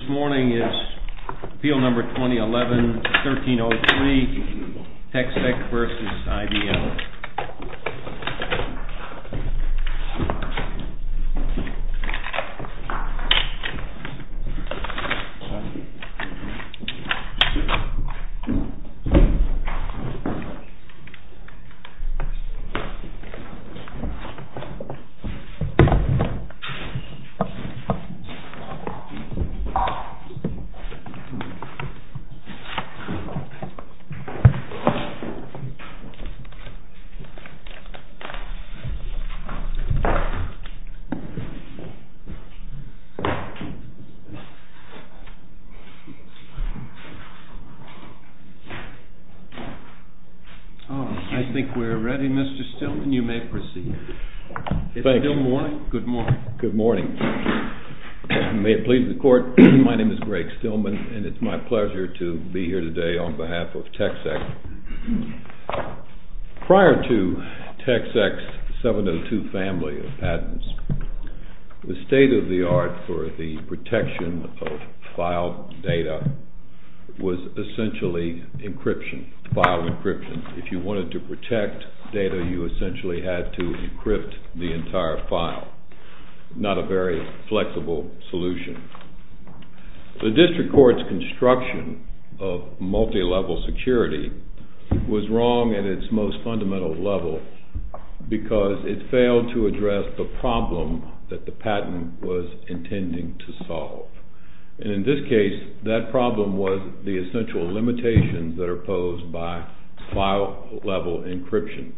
This morning is field number 2011-1303, TECSEC v. IDL. I think we are ready, Mr. Stillman. You may proceed. Good morning. Good morning. May it please the court, my name is Greg Stillman and it's my pleasure to be here today on behalf of TECSEC. Prior to TECSEC's 702 family of patents, the state of the art for the protection of file data was essentially encryption, file encryption. If you wanted to protect data, you essentially had to encrypt the entire file, not a very flexible solution. The district court's construction of multi-level security was wrong at its most fundamental level because it failed to address the problem that the patent was intending to solve. And in this case, that problem was the essential limitations that are posed by file-level encryption.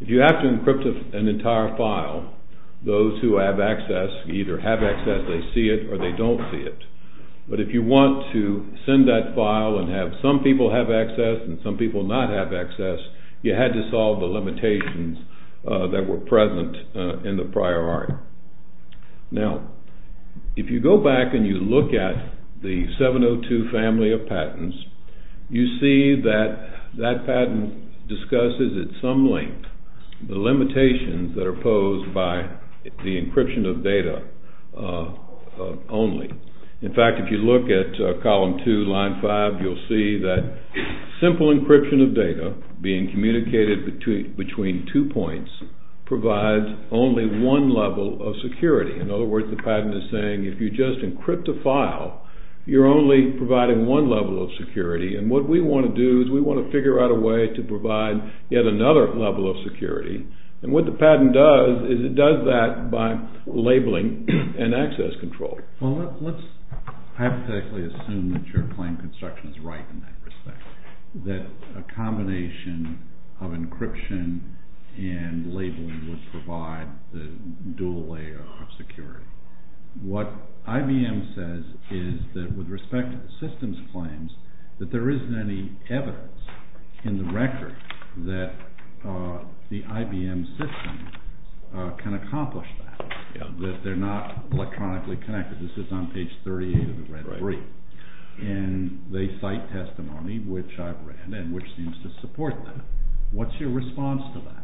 If you have to encrypt an entire file, those who have access, either have access, they see it or they don't see it. But if you want to send that file and have some people have access and some people not have access, you had to solve the limitations that were present in the prior art. Now, if you go back and you look at the 702 family of patents, you see that that patent discusses at some length the limitations that are posed by the encryption of data only. In fact, if you look at column two, line five, you'll see that simple encryption of data being communicated between two points provides only one level of security. In other words, the patent is saying if you just encrypt a file, you're only providing one level of security. And what we want to do is we want to figure out a way to provide yet another level of security. And what the patent does is it does that by labeling and access control. Well, let's hypothetically assume that your claim construction is right in that respect, that a combination of encryption and labeling would provide the dual layer of security. What IBM says is that with respect to the system's claims, that there isn't any evidence in the record that the IBM system can accomplish that, that they're not electronically connected. This is on page 38 of the red brief. And they cite testimony, which I've read, and which seems to support that. What's your response to that?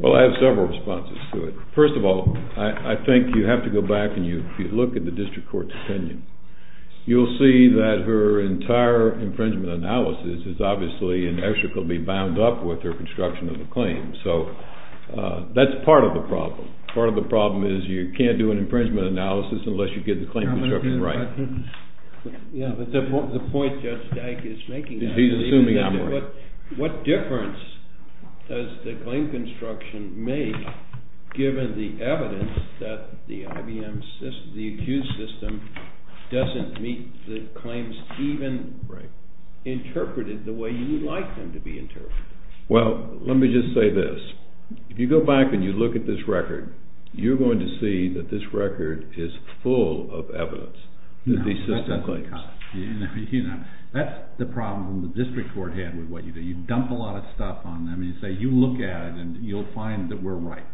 Well, I have several responses to it. First of all, I think you have to go back and you look at the district court's opinion. You'll see that her entire infringement analysis is obviously inextricably bound up with her construction of the claim. So that's part of the problem. Part of the problem is you can't do an infringement analysis unless you get the claim construction right. Yeah, but the point Judge Dyke is making is that what difference does the claim construction make given the evidence that the IBM system, the accused system, doesn't meet the claims even interpreted the way you'd like them to be interpreted? Well, let me just say this. If you go back and you look at this record, you're going to see that this record is full of evidence that the system claims. That's the problem the district court had with what you do. You dump a lot of stuff on them and you say, you look at it and you'll find that we're right.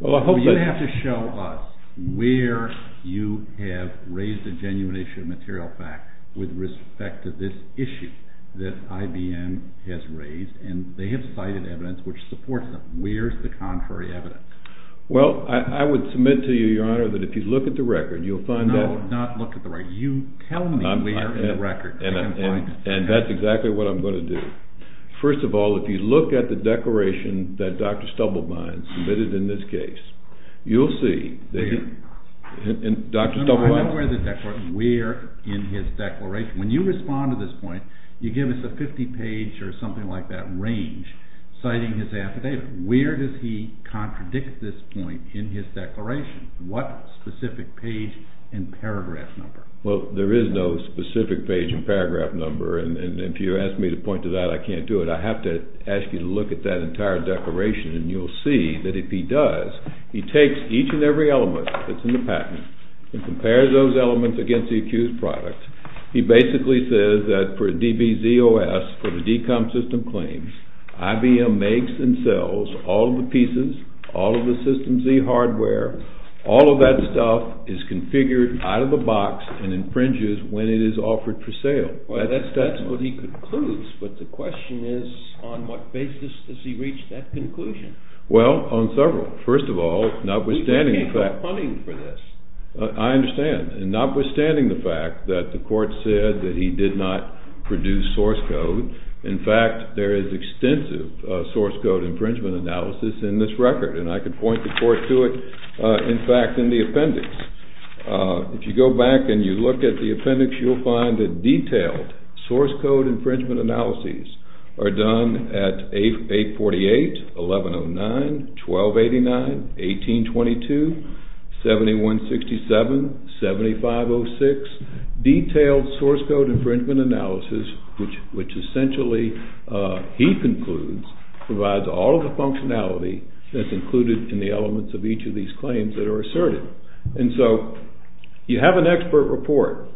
You have to show us where you have raised a genuine issue of material fact with respect to this issue that IBM has raised and they have cited evidence which supports them. Where's the contrary evidence? Well, I would submit to you, your honor, that if you look at the record, you'll find that... No, not look at the record. You tell me where in the record I can find it. And that's exactly what I'm going to do. First of all, if you look at the declaration that Dr. Stubblebine submitted in this case, you'll see that he... No, no, I know where the declaration... where in his declaration. When you respond to this point, you give us a 50 page or something like that range citing his affidavit. Where does he contradict this point in his declaration? What specific page and paragraph number? Well, there is no specific page and paragraph number and if you ask me to point to that, I can't do it. I have to ask you to look at that entire declaration and you'll see that if he does, he takes each and every element that's in the patent and compares those elements against the accused product. He basically says that for DBZOS, for the DCOM system claims, IBM makes and sells all of the pieces, all of the system Z hardware, all of that stuff is configured out of the box and infringes when it is offered for sale. Well, that's what he concludes, but the question is on what basis does he reach that conclusion? Well, on several. First of all, notwithstanding the fact... We can't go hunting for this. I understand and notwithstanding the fact that the court said that he did not produce source code. In fact, there is extensive source code infringement analysis in this record and I can point the court to it, in fact, in the appendix. If you go back and you look at the appendix, you'll find that detailed source code infringement analyses are done at 848, 1109, 1289, 1822, 7167, 7506. Detailed source code infringement analysis, which essentially he concludes, provides all of the functionality that's included in the elements of each of these claims that are asserted. And so, you have an expert report,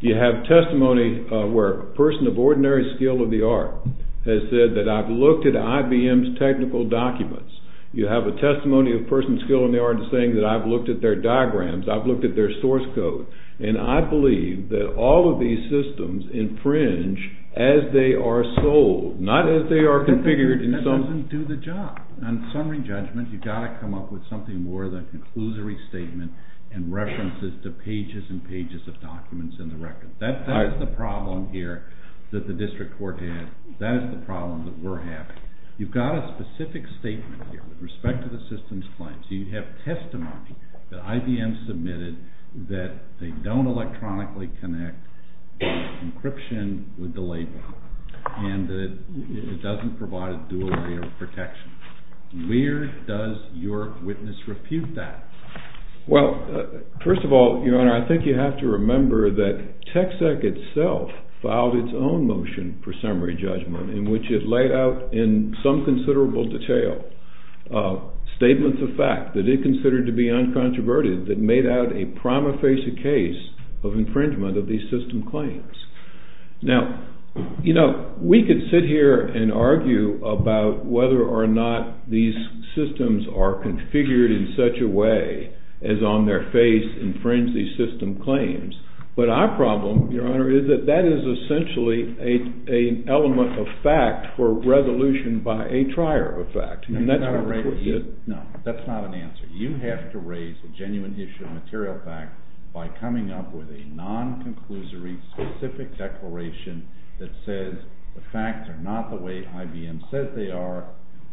you have testimony where a person of ordinary skill of the art has said that I've looked at IBM's technical documents, you have a testimony of a person of skill in the art saying that I've looked at their diagrams, I've looked at their source code, and I believe that all of these systems infringe as they are sold, not as they are configured in some... and references to pages and pages of documents in the record. That is the problem here that the district court has. That is the problem that we're having. You've got a specific statement here with respect to the system's claims. You have testimony that IBM submitted that they don't electronically connect encryption with the label, and that it doesn't provide a dual area of protection. Where does your witness refute that? Well, first of all, your honor, I think you have to remember that Texec itself filed its own motion for summary judgment in which it laid out in some considerable detail statements of fact that it considered to be uncontroverted that made out a prima facie case of infringement of these system claims. Now, you know, we could sit here and argue about whether or not these systems are configured in such a way as on their face infringe these system claims, but our problem, your honor, is that that is essentially an element of fact for resolution by a trier of fact. No, that's not an answer. You have to raise a genuine issue of material fact by coming up with a non-conclusory, specific declaration that says the facts are not the way IBM says they are,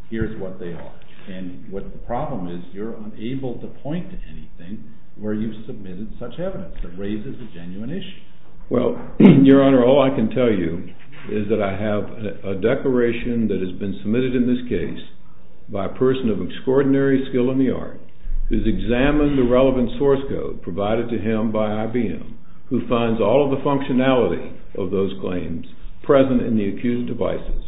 here's what they are. And what the problem is, you're unable to point to anything where you've submitted such evidence that raises a genuine issue. Well, your honor, all I can tell you is that I have a declaration that has been submitted in this case by a person of extraordinary skill in the art, who's examined the relevant source code provided to him by IBM, who finds all of the functionality of those claims present in the accused devices,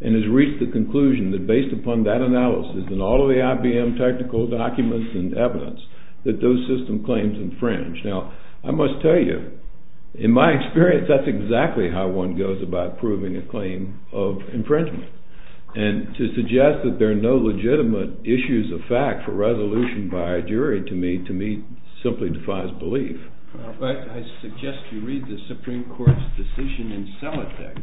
and has reached the conclusion that based upon that analysis and all of the IBM technical documents and evidence that those system claims infringe. Now, I must tell you, in my experience, that's exactly how one goes about proving a claim of infringement. And to suggest that there are no legitimate issues of fact for resolution by a jury, to me, simply defies belief. I suggest you read the Supreme Court's decision in Celotex,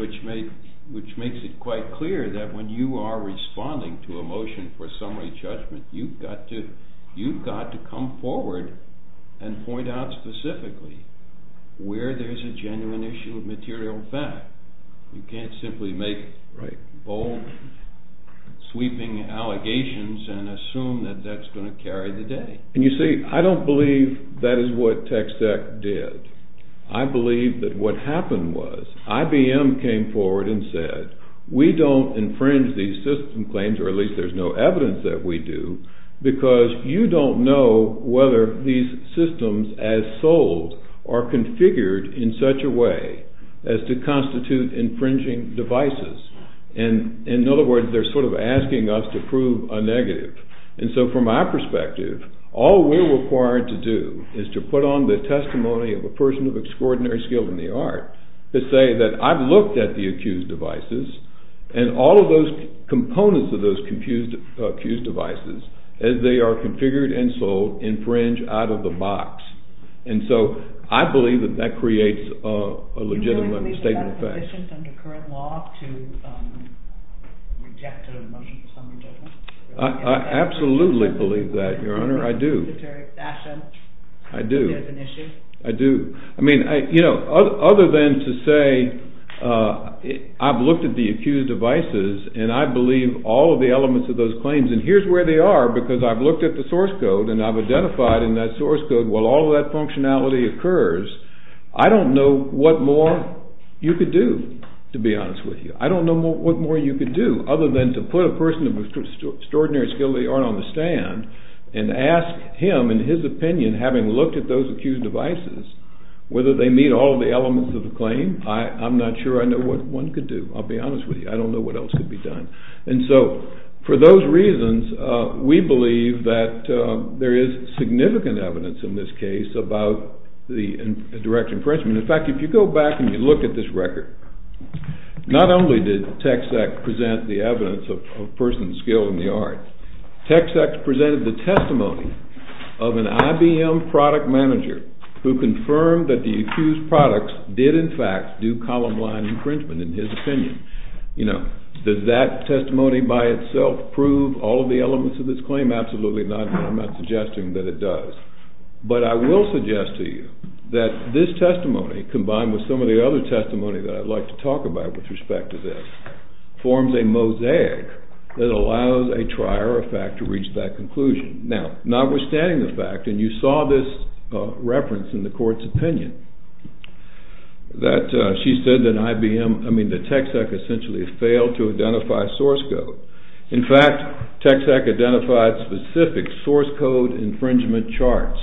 which makes it quite clear that when you are responding to a motion for summary judgment, you've got to come forward and point out specifically where there's a genuine issue of material fact. You can't simply make bold, sweeping allegations and assume that that's going to carry the day. And you see, I don't believe that is what TechSec did. I believe that what happened was IBM came forward and said, we don't infringe these system claims, or at least there's no evidence that we do, because you don't know whether these systems as sold are configured in such a way as to constitute infringing devices. And in other words, they're sort of asking us to prove a negative. And so from my perspective, all we're required to do is to put on the testimony of a person of extraordinary skill in the art to say that I've looked at the accused devices and all of those components of those accused devices, as they are configured and sold, infringe out of the box. And so I believe that that creates a legitimate statement of fact. Is it sufficient under current law to reject a motion for summary judgment? I absolutely believe that, Your Honor, I do. In a statutory fashion? I do. Is it an issue? I do. I mean, you know, other than to say I've looked at the accused devices and I believe all of the elements of those claims, and here's where they are because I've looked at the source code and I've identified in that source code, while all of that functionality occurs, I don't know what more you could do, to be honest with you. I don't know what more you could do other than to put a person of extraordinary skill in the art on the stand and ask him, in his opinion, having looked at those accused devices, whether they meet all of the elements of the claim. I'm not sure I know what one could do. I'll be honest with you. I don't know what else could be done. And so, for those reasons, we believe that there is significant evidence in this case about the direct infringement. In fact, if you go back and you look at this record, not only did Tex-Ex present the evidence of a person's skill in the art, Tex-Ex presented the testimony of an IBM product manager who confirmed that the accused products did, in fact, do column line infringement, in his opinion. You know, does that testimony by itself prove all of the elements of this claim? Absolutely not, and I'm not suggesting that it does. But I will suggest to you that this testimony, combined with some of the other testimony that I'd like to talk about with respect to this, forms a mosaic that allows a trier of fact to reach that conclusion. Now, notwithstanding the fact, and you saw this reference in the court's opinion, that she said that IBM, I mean, that Tex-Ex essentially failed to identify source code. In fact, Tex-Ex identified specific source code infringement charts,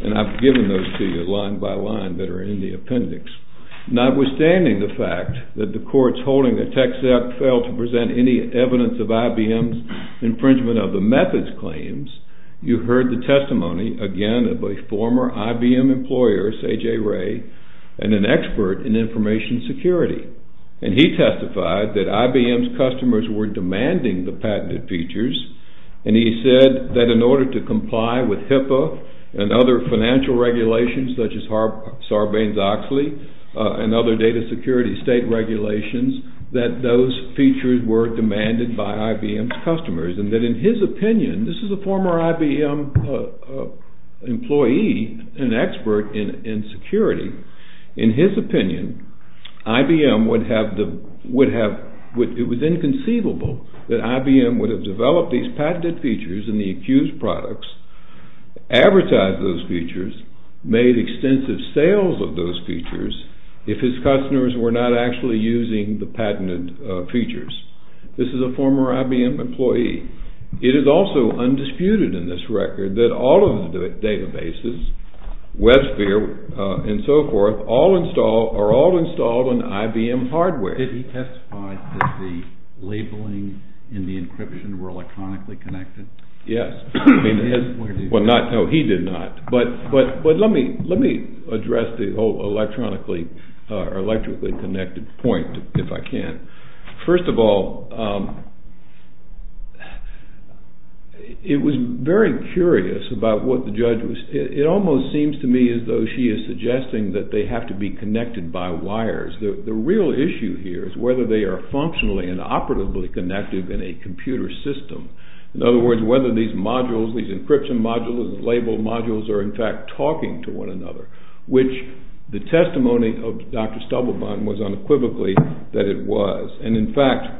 and I've given those to you line by line that are in the appendix. Notwithstanding the fact that the courts holding that Tex-Ex failed to present any evidence of IBM's infringement of the methods claims, you heard the testimony, again, of a former IBM employer, Sajay Ray, and an expert in information security. And he testified that IBM's customers were demanding the patented features, and he said that in order to comply with HIPAA and other financial regulations, such as Sarbanes-Oxley and other data security state regulations, that those features were demanded by IBM's customers, and that in his opinion, this is a former IBM employee, an expert in security. In his opinion, it was inconceivable that IBM would have developed these patented features in the accused products, advertised those features, made extensive sales of those features, if his customers were not actually using the patented features. This is a former IBM employee. It is also undisputed in this record that all of the databases, WebSphere and so forth, are all installed on IBM hardware. Did he testify that the labeling in the encryption were electronically connected? Yes. Well, no, he did not. But let me address the whole electronically connected point, if I can. First of all, it was very curious about what the judge was, it almost seems to me as though she is suggesting that they have to be connected by wires. The real issue here is whether they are functionally and operatively connected in a computer system. In other words, whether these modules, these encryption modules, labeled modules, are in fact talking to one another, which the testimony of Dr. Stubblebine was unequivocally that it was. And in fact,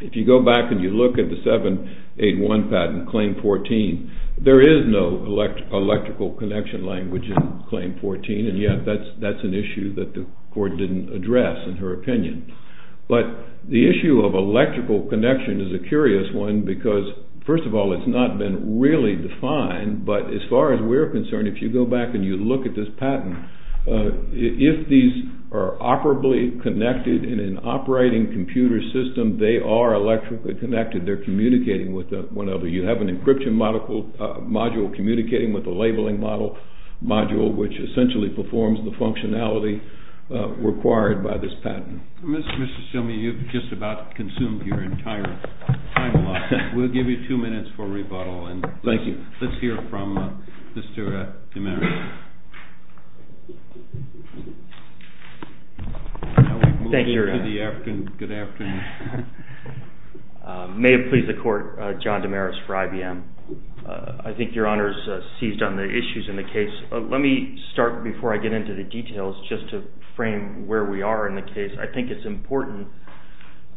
if you go back and you look at the 781 patent, Claim 14, there is no electrical connection language in Claim 14, and yet that's an issue that the court didn't address in her opinion. But the issue of electrical connection is a curious one because, first of all, it's not been really defined, but as far as we're concerned, if you go back and you look at this patent, if these are operably connected in an operating computer system, they are electrically connected. They're communicating with one another. You have an encryption module communicating with a labeling module, which essentially performs the functionality required by this patent. Mr. Stubblebine, you've just about consumed your entire time a lot. We'll give you two minutes for rebuttal. Thank you. Let's hear from Mr. Damaris. Thank you, Your Honor. Good afternoon. May it please the Court, John Damaris for IBM. I think Your Honor's seized on the issues in the case. Let me start before I get into the details just to frame where we are in the case. I think it's important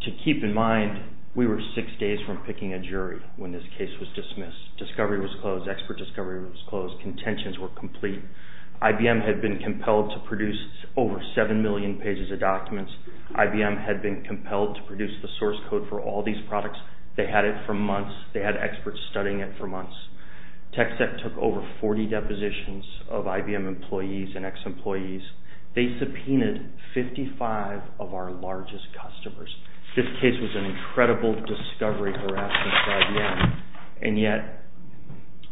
to keep in mind we were six days from picking a jury when this case was dismissed. Discovery was closed. Expert discovery was closed. Contentions were complete. IBM had been compelled to produce over 7 million pages of documents. IBM had been compelled to produce the source code for all these products. They had it for months. They had experts studying it for months. TechSec took over 40 depositions of IBM employees and ex-employees. They subpoenaed 55 of our largest customers. This case was an incredible discovery for us inside and out. And yet,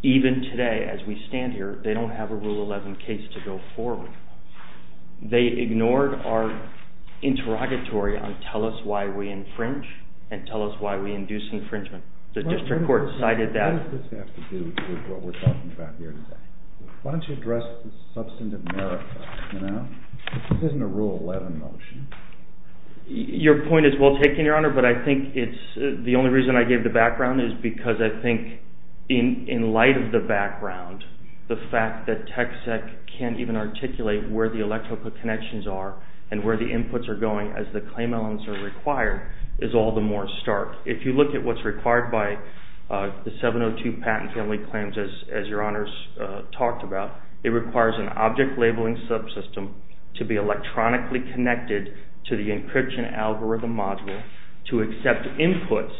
even today as we stand here, they don't have a Rule 11 case to go forward. They ignored our interrogatory on tell us why we infringe and tell us why we induce infringement. The district court cited that. What does this have to do with what we're talking about here today? Why don't you address the substantive merit? This isn't a Rule 11 motion. Your point is well taken, Your Honor. But I think the only reason I gave the background is because I think in light of the background, the fact that TechSec can't even articulate where the electrical connections are and where the inputs are going as the claim elements are required is all the more stark. If you look at what's required by the 702 Patent Family Claims, as Your Honors talked about, it requires an object labeling subsystem to be electronically connected to the encryption algorithm module to accept inputs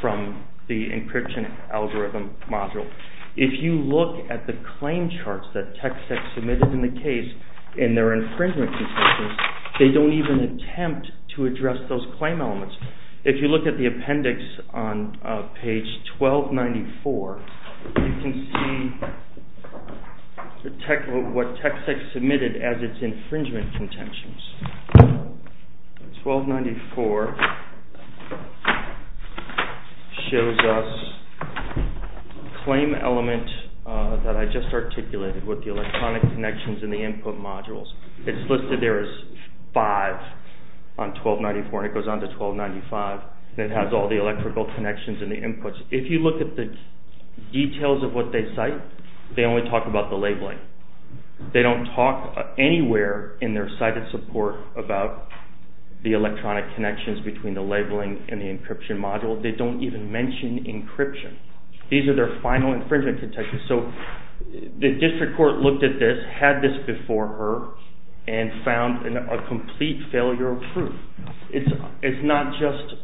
from the encryption algorithm module. If you look at the claim charts that TechSec submitted in the case in their infringement conditions, they don't even attempt to address those claim elements. If you look at the appendix on page 1294, you can see what TechSec submitted as its infringement contentions. 1294 shows us a claim element that I just articulated with the electronic connections in the input modules. It's listed there as 5 on 1294 and it goes on to 1295 and it has all the electrical connections in the inputs. If you look at the details of what they cite, they only talk about the labeling. They don't talk anywhere in their cited support about the electronic connections between the labeling and the encryption module. They don't even mention encryption. These are their final infringement contentions. The district court looked at this, had this before her, and found a complete failure of proof. It's not just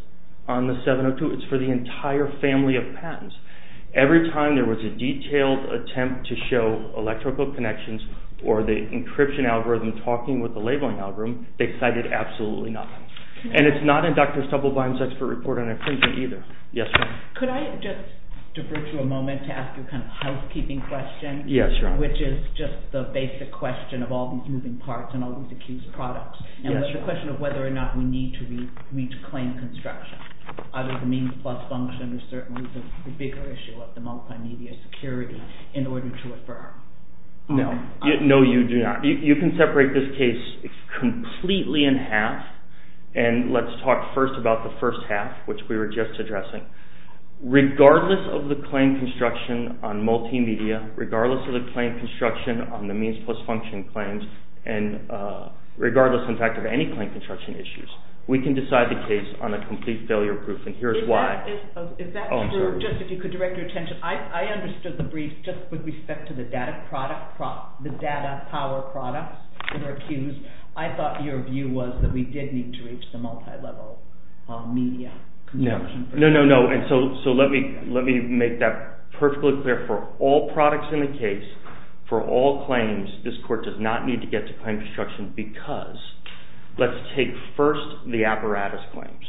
on the 702, it's for the entire family of patents. Every time there was a detailed attempt to show electrical connections or the encryption algorithm talking with the labeling algorithm, they cited absolutely nothing. And it's not in Dr. Stubblebine's expert report on infringement either. Could I just defer to a moment to ask you a housekeeping question, which is just the basic question of all these moving parts and all these accused products. It's a question of whether or not we need to claim construction. Either the means plus function or certainly the bigger issue of the multimedia security in order to affirm. No, you do not. You can separate this case completely in half. And let's talk first about the first half, which we were just addressing. Regardless of the claim construction on multimedia, regardless of the claim construction on the means plus function claims, and regardless in fact of any claim construction issues, we can decide the case on a complete failure proof, and here's why. Is that true? Just if you could direct your attention. I understood the brief just with respect to the data power products that are accused. I thought your view was that we did need to reach the multilevel media. No, no, no. And so let me make that perfectly clear. For all products in the case, for all claims, this court does not need to get to claim construction because let's take first the apparatus claims.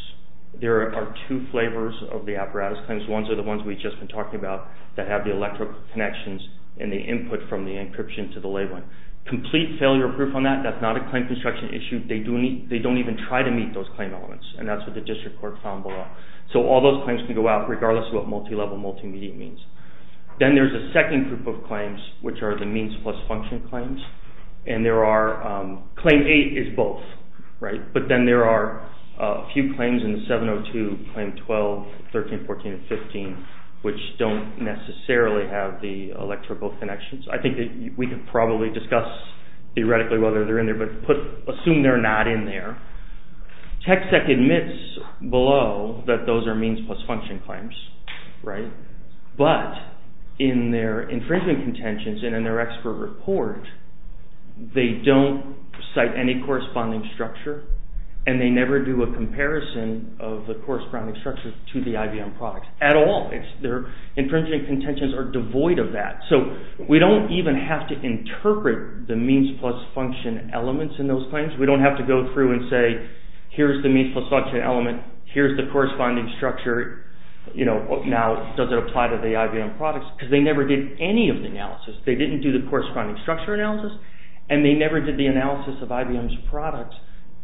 There are two flavors of the apparatus claims. Ones are the ones we've just been talking about that have the electrical connections and the input from the encryption to the labeling. Complete failure proof on that, that's not a claim construction issue. They don't even try to meet those claim elements, and that's what the district court found below. So all those claims can go out regardless of what multilevel multimedia means. Then there's a second group of claims, which are the means plus function claims. And there are, claim 8 is both, right? But then there are a few claims in the 702, claim 12, 13, 14, and 15, which don't necessarily have the electrical connections. I think we can probably discuss theoretically whether they're in there, but assume they're not in there. TechSec admits below that those are means plus function claims, right? But in their infringement contentions and in their expert report, they don't cite any corresponding structure, and they never do a comparison of the corresponding structure to the IBM products at all. Their infringement contentions are devoid of that. So we don't even have to interpret the means plus function elements in those claims. We don't have to go through and say, here's the means plus function element, here's the corresponding structure, now does it apply to the IBM products? Because they never did any of the analysis. They didn't do the corresponding structure analysis, and they never did the analysis of IBM's products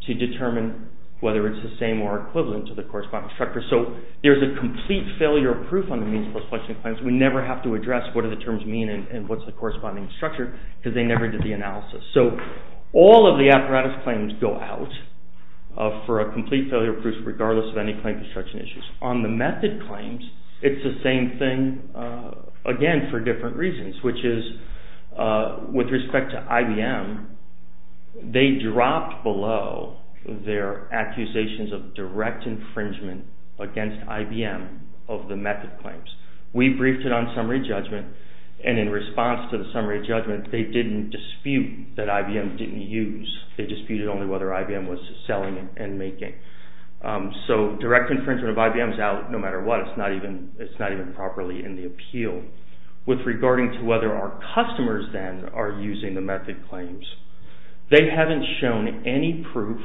to determine whether it's the same or equivalent to the corresponding structure. So there's a complete failure proof on the means plus function claims. We never have to address what do the terms mean and what's the corresponding structure, because they never did the analysis. So all of the apparatus claims go out for a complete failure proof, regardless of any claim construction issues. On the method claims, it's the same thing, again, for different reasons, which is with respect to IBM, they dropped below their accusations of direct infringement against IBM of the method claims. We briefed it on summary judgment, and in response to the summary judgment, they didn't dispute that IBM didn't use. They disputed only whether IBM was selling and making. So direct infringement of IBM is out no matter what. It's not even properly in the appeal. With regarding to whether our customers then are using the method claims, they haven't shown any proof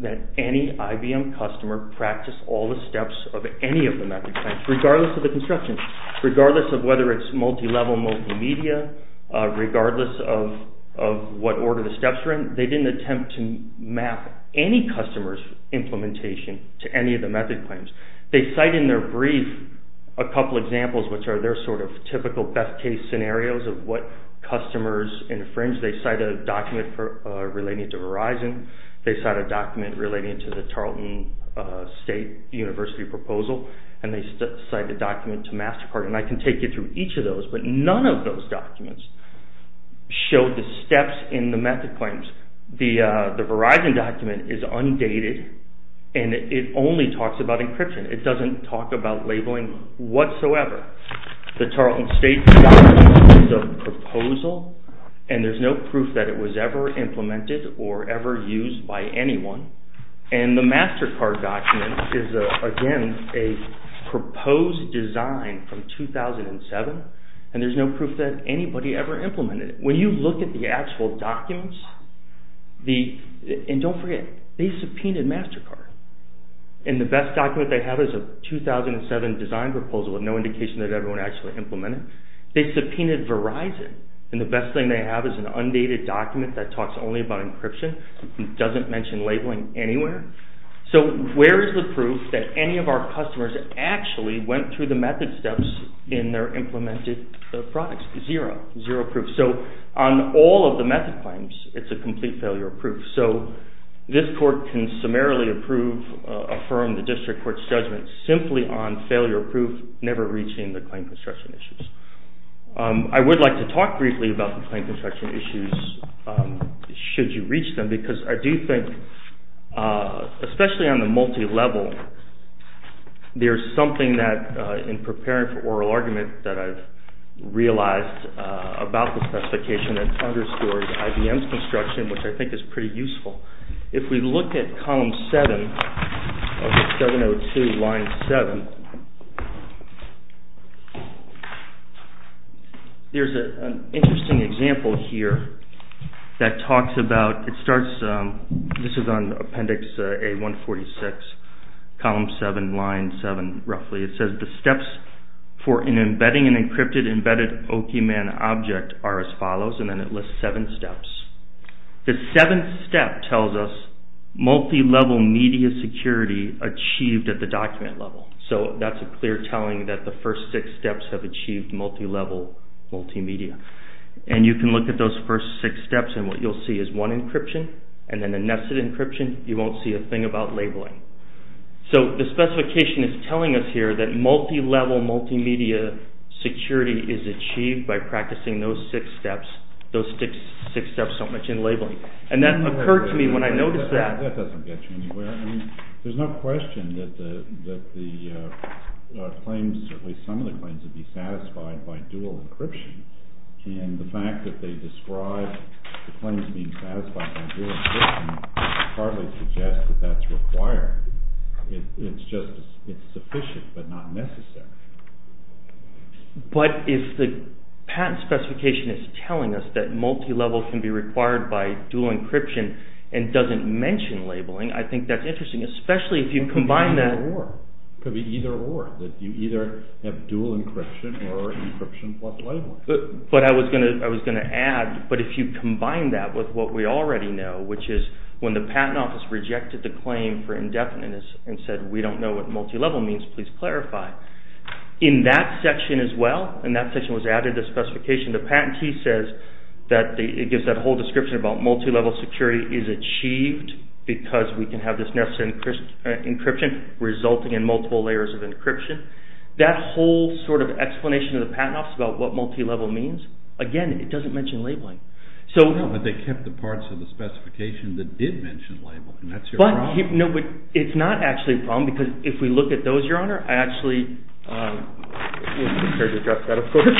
that any IBM customer practiced all the steps of any of the method claims, regardless of the construction, regardless of whether it's multi-level multimedia, regardless of what order the steps are in. They didn't attempt to map any customer's implementation to any of the method claims. They cite in their brief a couple of examples, which are their sort of typical best case scenarios of what customers infringe. They cite a document relating to Verizon. They cite a document relating to the Tarleton State University proposal, and they cite a document to MasterCard. And I can take you through each of those, but none of those documents show the steps in the method claims. The Verizon document is undated, and it only talks about encryption. It doesn't talk about labeling whatsoever. The Tarleton State proposal, is a proposal, and there's no proof that it was ever implemented or ever used by anyone. And the MasterCard document is, again, a proposed design from 2007, and there's no proof that anybody ever implemented it. When you look at the actual documents, and don't forget, they subpoenaed MasterCard. And the best document they have is a 2007 design proposal with no indication that everyone actually implemented it. They subpoenaed Verizon, and the best thing they have is an undated document that talks only about encryption. It doesn't mention labeling anywhere. So where is the proof that any of our customers actually went through the method steps in their implemented products? Zero. Zero proof. So on all of the method claims, it's a complete failure of proof. affirm the district court's judgment simply on failure of proof, never reaching the claim construction issues. I would like to talk briefly about the claim construction issues, should you reach them, because I do think, especially on the multi-level, there's something that in preparing for oral argument that I've realized about the specification that underscores IBM's construction, which I think is pretty useful. If we look at column 7 of 702, line 7, there's an interesting example here that talks about, it starts, this is on appendix A146, column 7, line 7, roughly. It says the steps for embedding an encrypted, embedded OPMAN object are as follows, and then it lists seven steps. The seventh step tells us multi-level media security achieved at the document level. So that's a clear telling that the first six steps have achieved multi-level multimedia. And you can look at those first six steps, and what you'll see is one encryption, and then the nested encryption, you won't see a thing about labeling. So the specification is telling us here that multi-level multimedia security is achieved by practicing those six steps. Those six steps don't mention labeling. And that occurred to me when I noticed that. That doesn't get you anywhere. There's no question that the claims, at least some of the claims, would be satisfied by dual encryption. And the fact that they describe the claims being satisfied by dual encryption hardly suggests that that's required. It's just, it's sufficient but not necessary. But if the patent specification is telling us that multi-level can be required by dual encryption and doesn't mention labeling, I think that's interesting, especially if you combine that... It could be either or. It could be either or, that you either have dual encryption or encryption plus labeling. But I was going to add, but if you combine that with what we already know, which is when the patent office rejected the claim for indefiniteness and said, we don't know what multi-level means, please clarify. In that section as well, and that section was added to the specification, the patentee says that it gives that whole description about multi-level security is achieved because we can have this necessary encryption resulting in multiple layers of encryption. That whole sort of explanation of the patent office about what multi-level means, again, it doesn't mention labeling. No, but they kept the parts of the specification that did mention labeling, and that's your problem. No, but it's not actually a problem because if we look at those, Your Honor, I actually... I'm not prepared to address that, of course.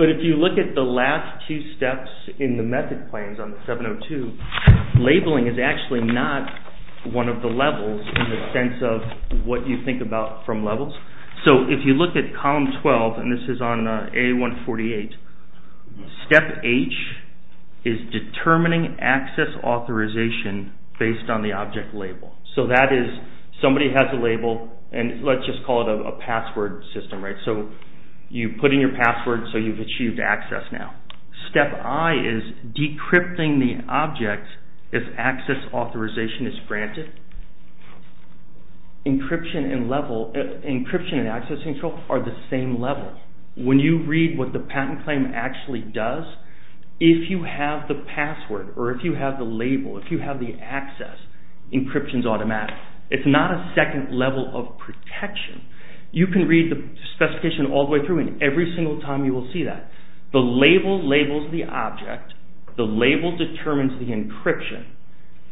But if you look at the last two steps in the method claims on 702, labeling is actually not one of the levels in the sense of what you think about from levels. So if you look at column 12, and this is on A148, step H is determining access authorization based on the object label. So that is somebody has a label, and let's just call it a password system, right? So you put in your password, so you've achieved access now. Step I is decrypting the object if access authorization is granted. Encryption and access control are the same level. When you read what the patent claim actually does, if you have the password, or if you have the label, if you have the access, encryption's automatic. It's not a second level of protection. You can read the specification all the way through, and every single time you will see that. The label labels the object, the label determines the encryption.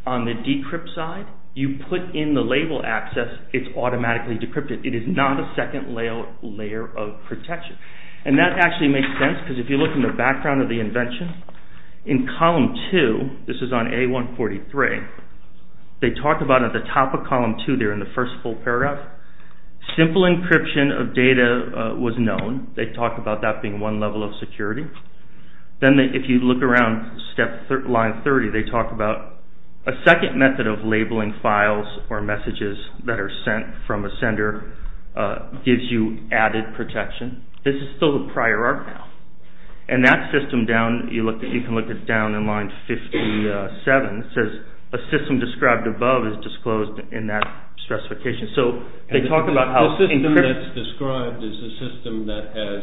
On the decrypt side, you put in the label access, it's automatically decrypted. It is not a second layer of protection. And that actually makes sense because if you look in the background of the invention, in column 2, this is on A143, they talk about at the top of column 2 there in the first full paragraph, simple encryption of data was known. They talk about that being one level of security. Then if you look around line 30, they talk about a second method of labeling files or messages that are sent from a sender gives you added protection. This is still the prior art now. And that system down, you can look at down in line 57, it says a system described above is disclosed in that specification. So they talk about how encryption... as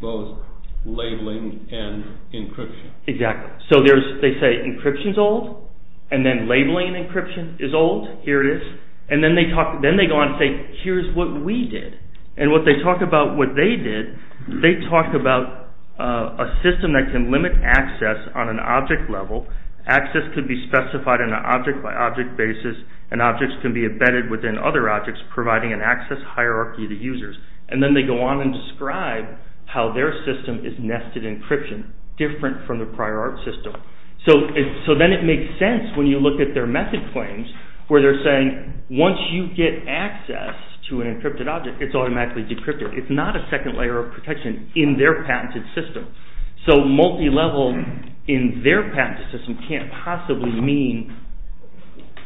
both labeling and encryption. Exactly. So they say encryption is old, and then labeling and encryption is old. Here it is. And then they go on and say, here's what we did. And what they talk about what they did, they talk about a system that can limit access on an object level. Access could be specified in an object by object basis and objects can be embedded within other objects providing an access hierarchy to users. And then they go on and describe how their system is nested encryption, different from the prior art system. So then it makes sense when you look at their method claims where they're saying once you get access to an encrypted object, it's automatically decrypted. It's not a second layer of protection in their patented system. So multi-level in their patented system can't possibly mean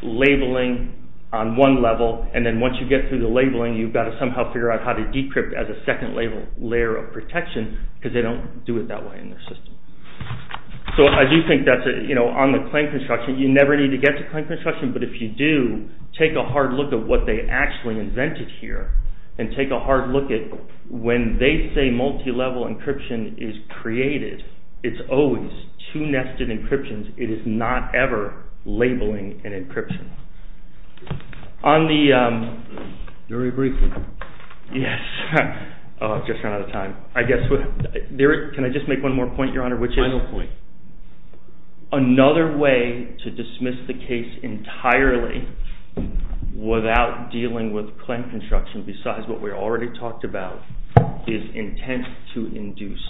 labeling on one level. And then once you get through the labeling, you've got to somehow figure out how to decrypt as a second layer of protection because they don't do it that way in their system. So I do think that on the claim construction, you never need to get to claim construction, but if you do, take a hard look at what they actually invented here and take a hard look at when they say multi-level encryption is created, it's always two nested encryptions. It is not ever labeling and encryption. On the... Very briefly. Yes. Oh, I've just run out of time. I guess... Can I just make one more point, Your Honor, which is... Final point. Another way to dismiss the case entirely without dealing with claim construction besides what we already talked about is intent to induce.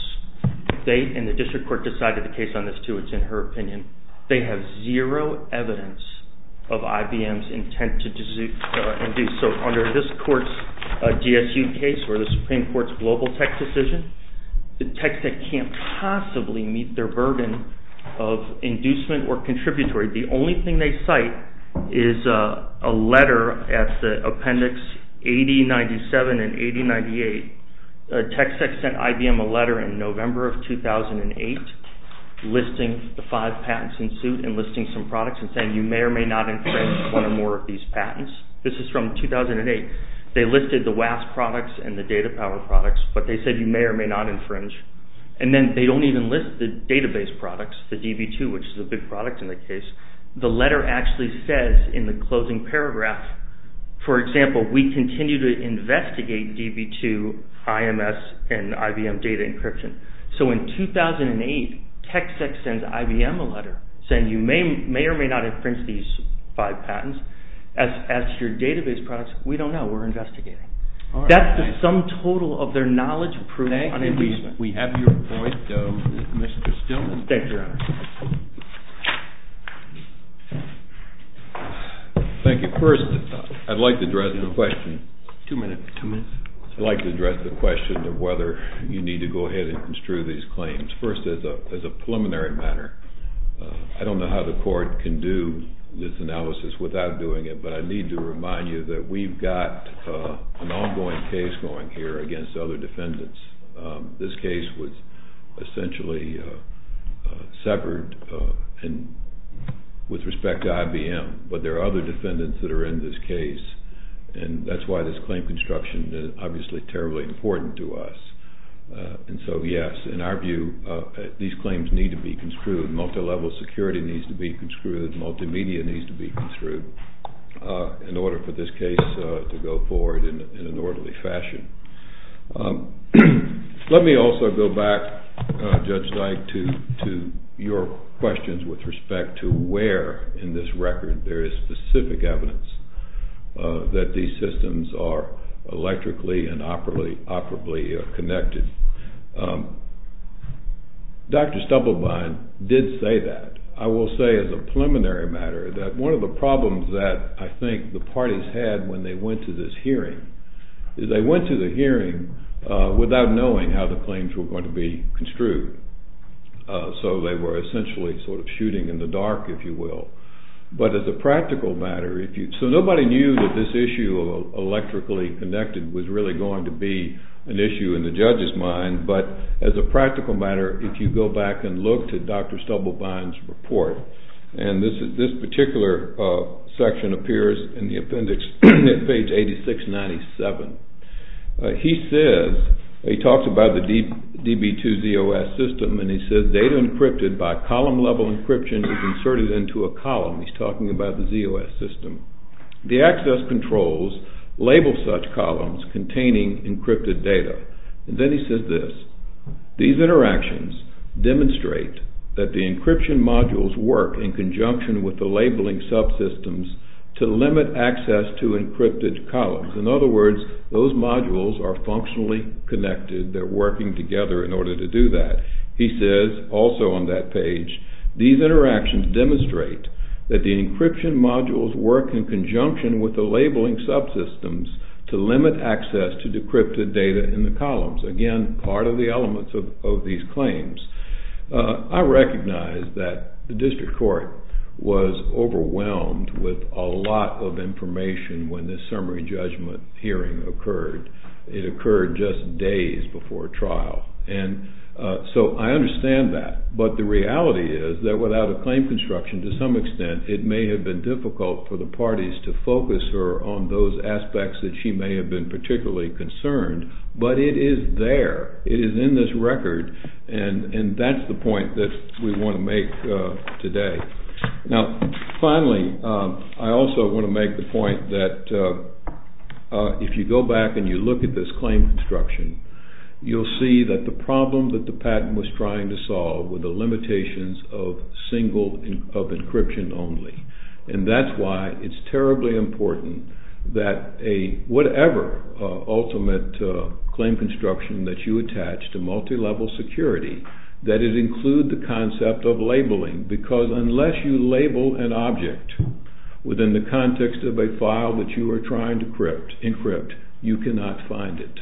They, and the district court, decided the case on this too. It's in her opinion. They have zero evidence of IBM's intent to induce. So under this court's DSU case or the Supreme Court's global tech decision, the tech tech can't possibly meet their burden of inducement or contributory. The only thing they cite is a letter at the appendix 8097 and 8098. Tech tech sent IBM a letter in November of 2008 listing the five patents in suit and listing some products and saying you may or may not infringe one or more of these patents. This is from 2008. They listed the WASP products and the data power products, but they said you may or may not infringe. And then they don't even list the database products, the DB2, which is a big product in the case. The letter actually says in the closing paragraph, for example, we continue to investigate DB2, IMS, and IBM data encryption. So in 2008, tech tech sends IBM a letter saying you may or may not infringe these five patents. As for database products, we don't know. We're investigating. That's the sum total of their knowledge proved on inducement. Thank you. We have your point, Mr. Stillman. Thank you, Your Honor. Thank you. First, I'd like to address the question. Two minutes. I'd like to address the question of whether you need to go ahead and construe these claims. First, as a preliminary matter, I don't know how the court can do this analysis without doing it, but I need to remind you that we've got an ongoing case going here against other defendants. This case was essentially severed with respect to IBM, but there are other defendants that are in this case, and that's why this claim construction is obviously terribly important to us. And so, yes, in our view, these claims need to be construed. Multilevel security needs to be construed. Multimedia needs to be construed in order for this case to go forward in an orderly fashion. Let me also go back, Judge Dyke, to your questions with respect to where in this record there is specific evidence that these systems are electrically and operably connected. Dr. Stubblebine did say that. I will say as a preliminary matter that one of the problems that I think the parties had when they went to this hearing is they went to the hearing without knowing how the claims were going to be construed. So they were essentially sort of shooting in the dark, if you will. But as a practical matter, so nobody knew that this issue of electrically connected was really going to be an issue in the judge's mind, but as a practical matter, if you go back and look to Dr. Stubblebine's report, and this particular section appears in the appendix at page 8697, he says, he talks about the DB2ZOS system, and he says, the data encrypted by column-level encryption is inserted into a column. He's talking about the ZOS system. The access controls label such columns containing encrypted data. And then he says this, In other words, those modules are functionally connected. They're working together in order to do that. He says, also on that page, Again, part of the elements of these claims. I recognize that the district court was overwhelmed with a lot of information when this summary judgment hearing occurred. It occurred just days before trial. So I understand that, but the reality is that without a claim construction, to some extent, it may have been difficult for the parties to focus her on those aspects that she may have been particularly concerned, but it is there. It is in this record, and that's the point that we want to make today. Now, finally, I also want to make the point that if you go back and you look at this claim construction, you'll see that the problem that the patent was trying to solve were the limitations of encryption only. And that's why it's terribly important that whatever ultimate claim construction that you attach to multilevel security, that it include the concept of labeling, because unless you label an object within the context of a file that you are trying to encrypt, you cannot find it.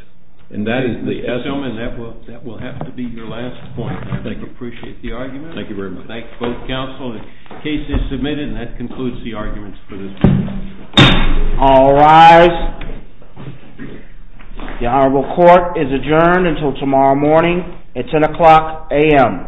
And that is the essence... Mr. Tillman, that will have to be your last point. Thank you. I appreciate the argument. Thank you very much. I thank both counsel. The case is submitted, and that concludes the arguments for this morning. All rise. The Honorable Court is adjourned until tomorrow morning at 10 o'clock a.m.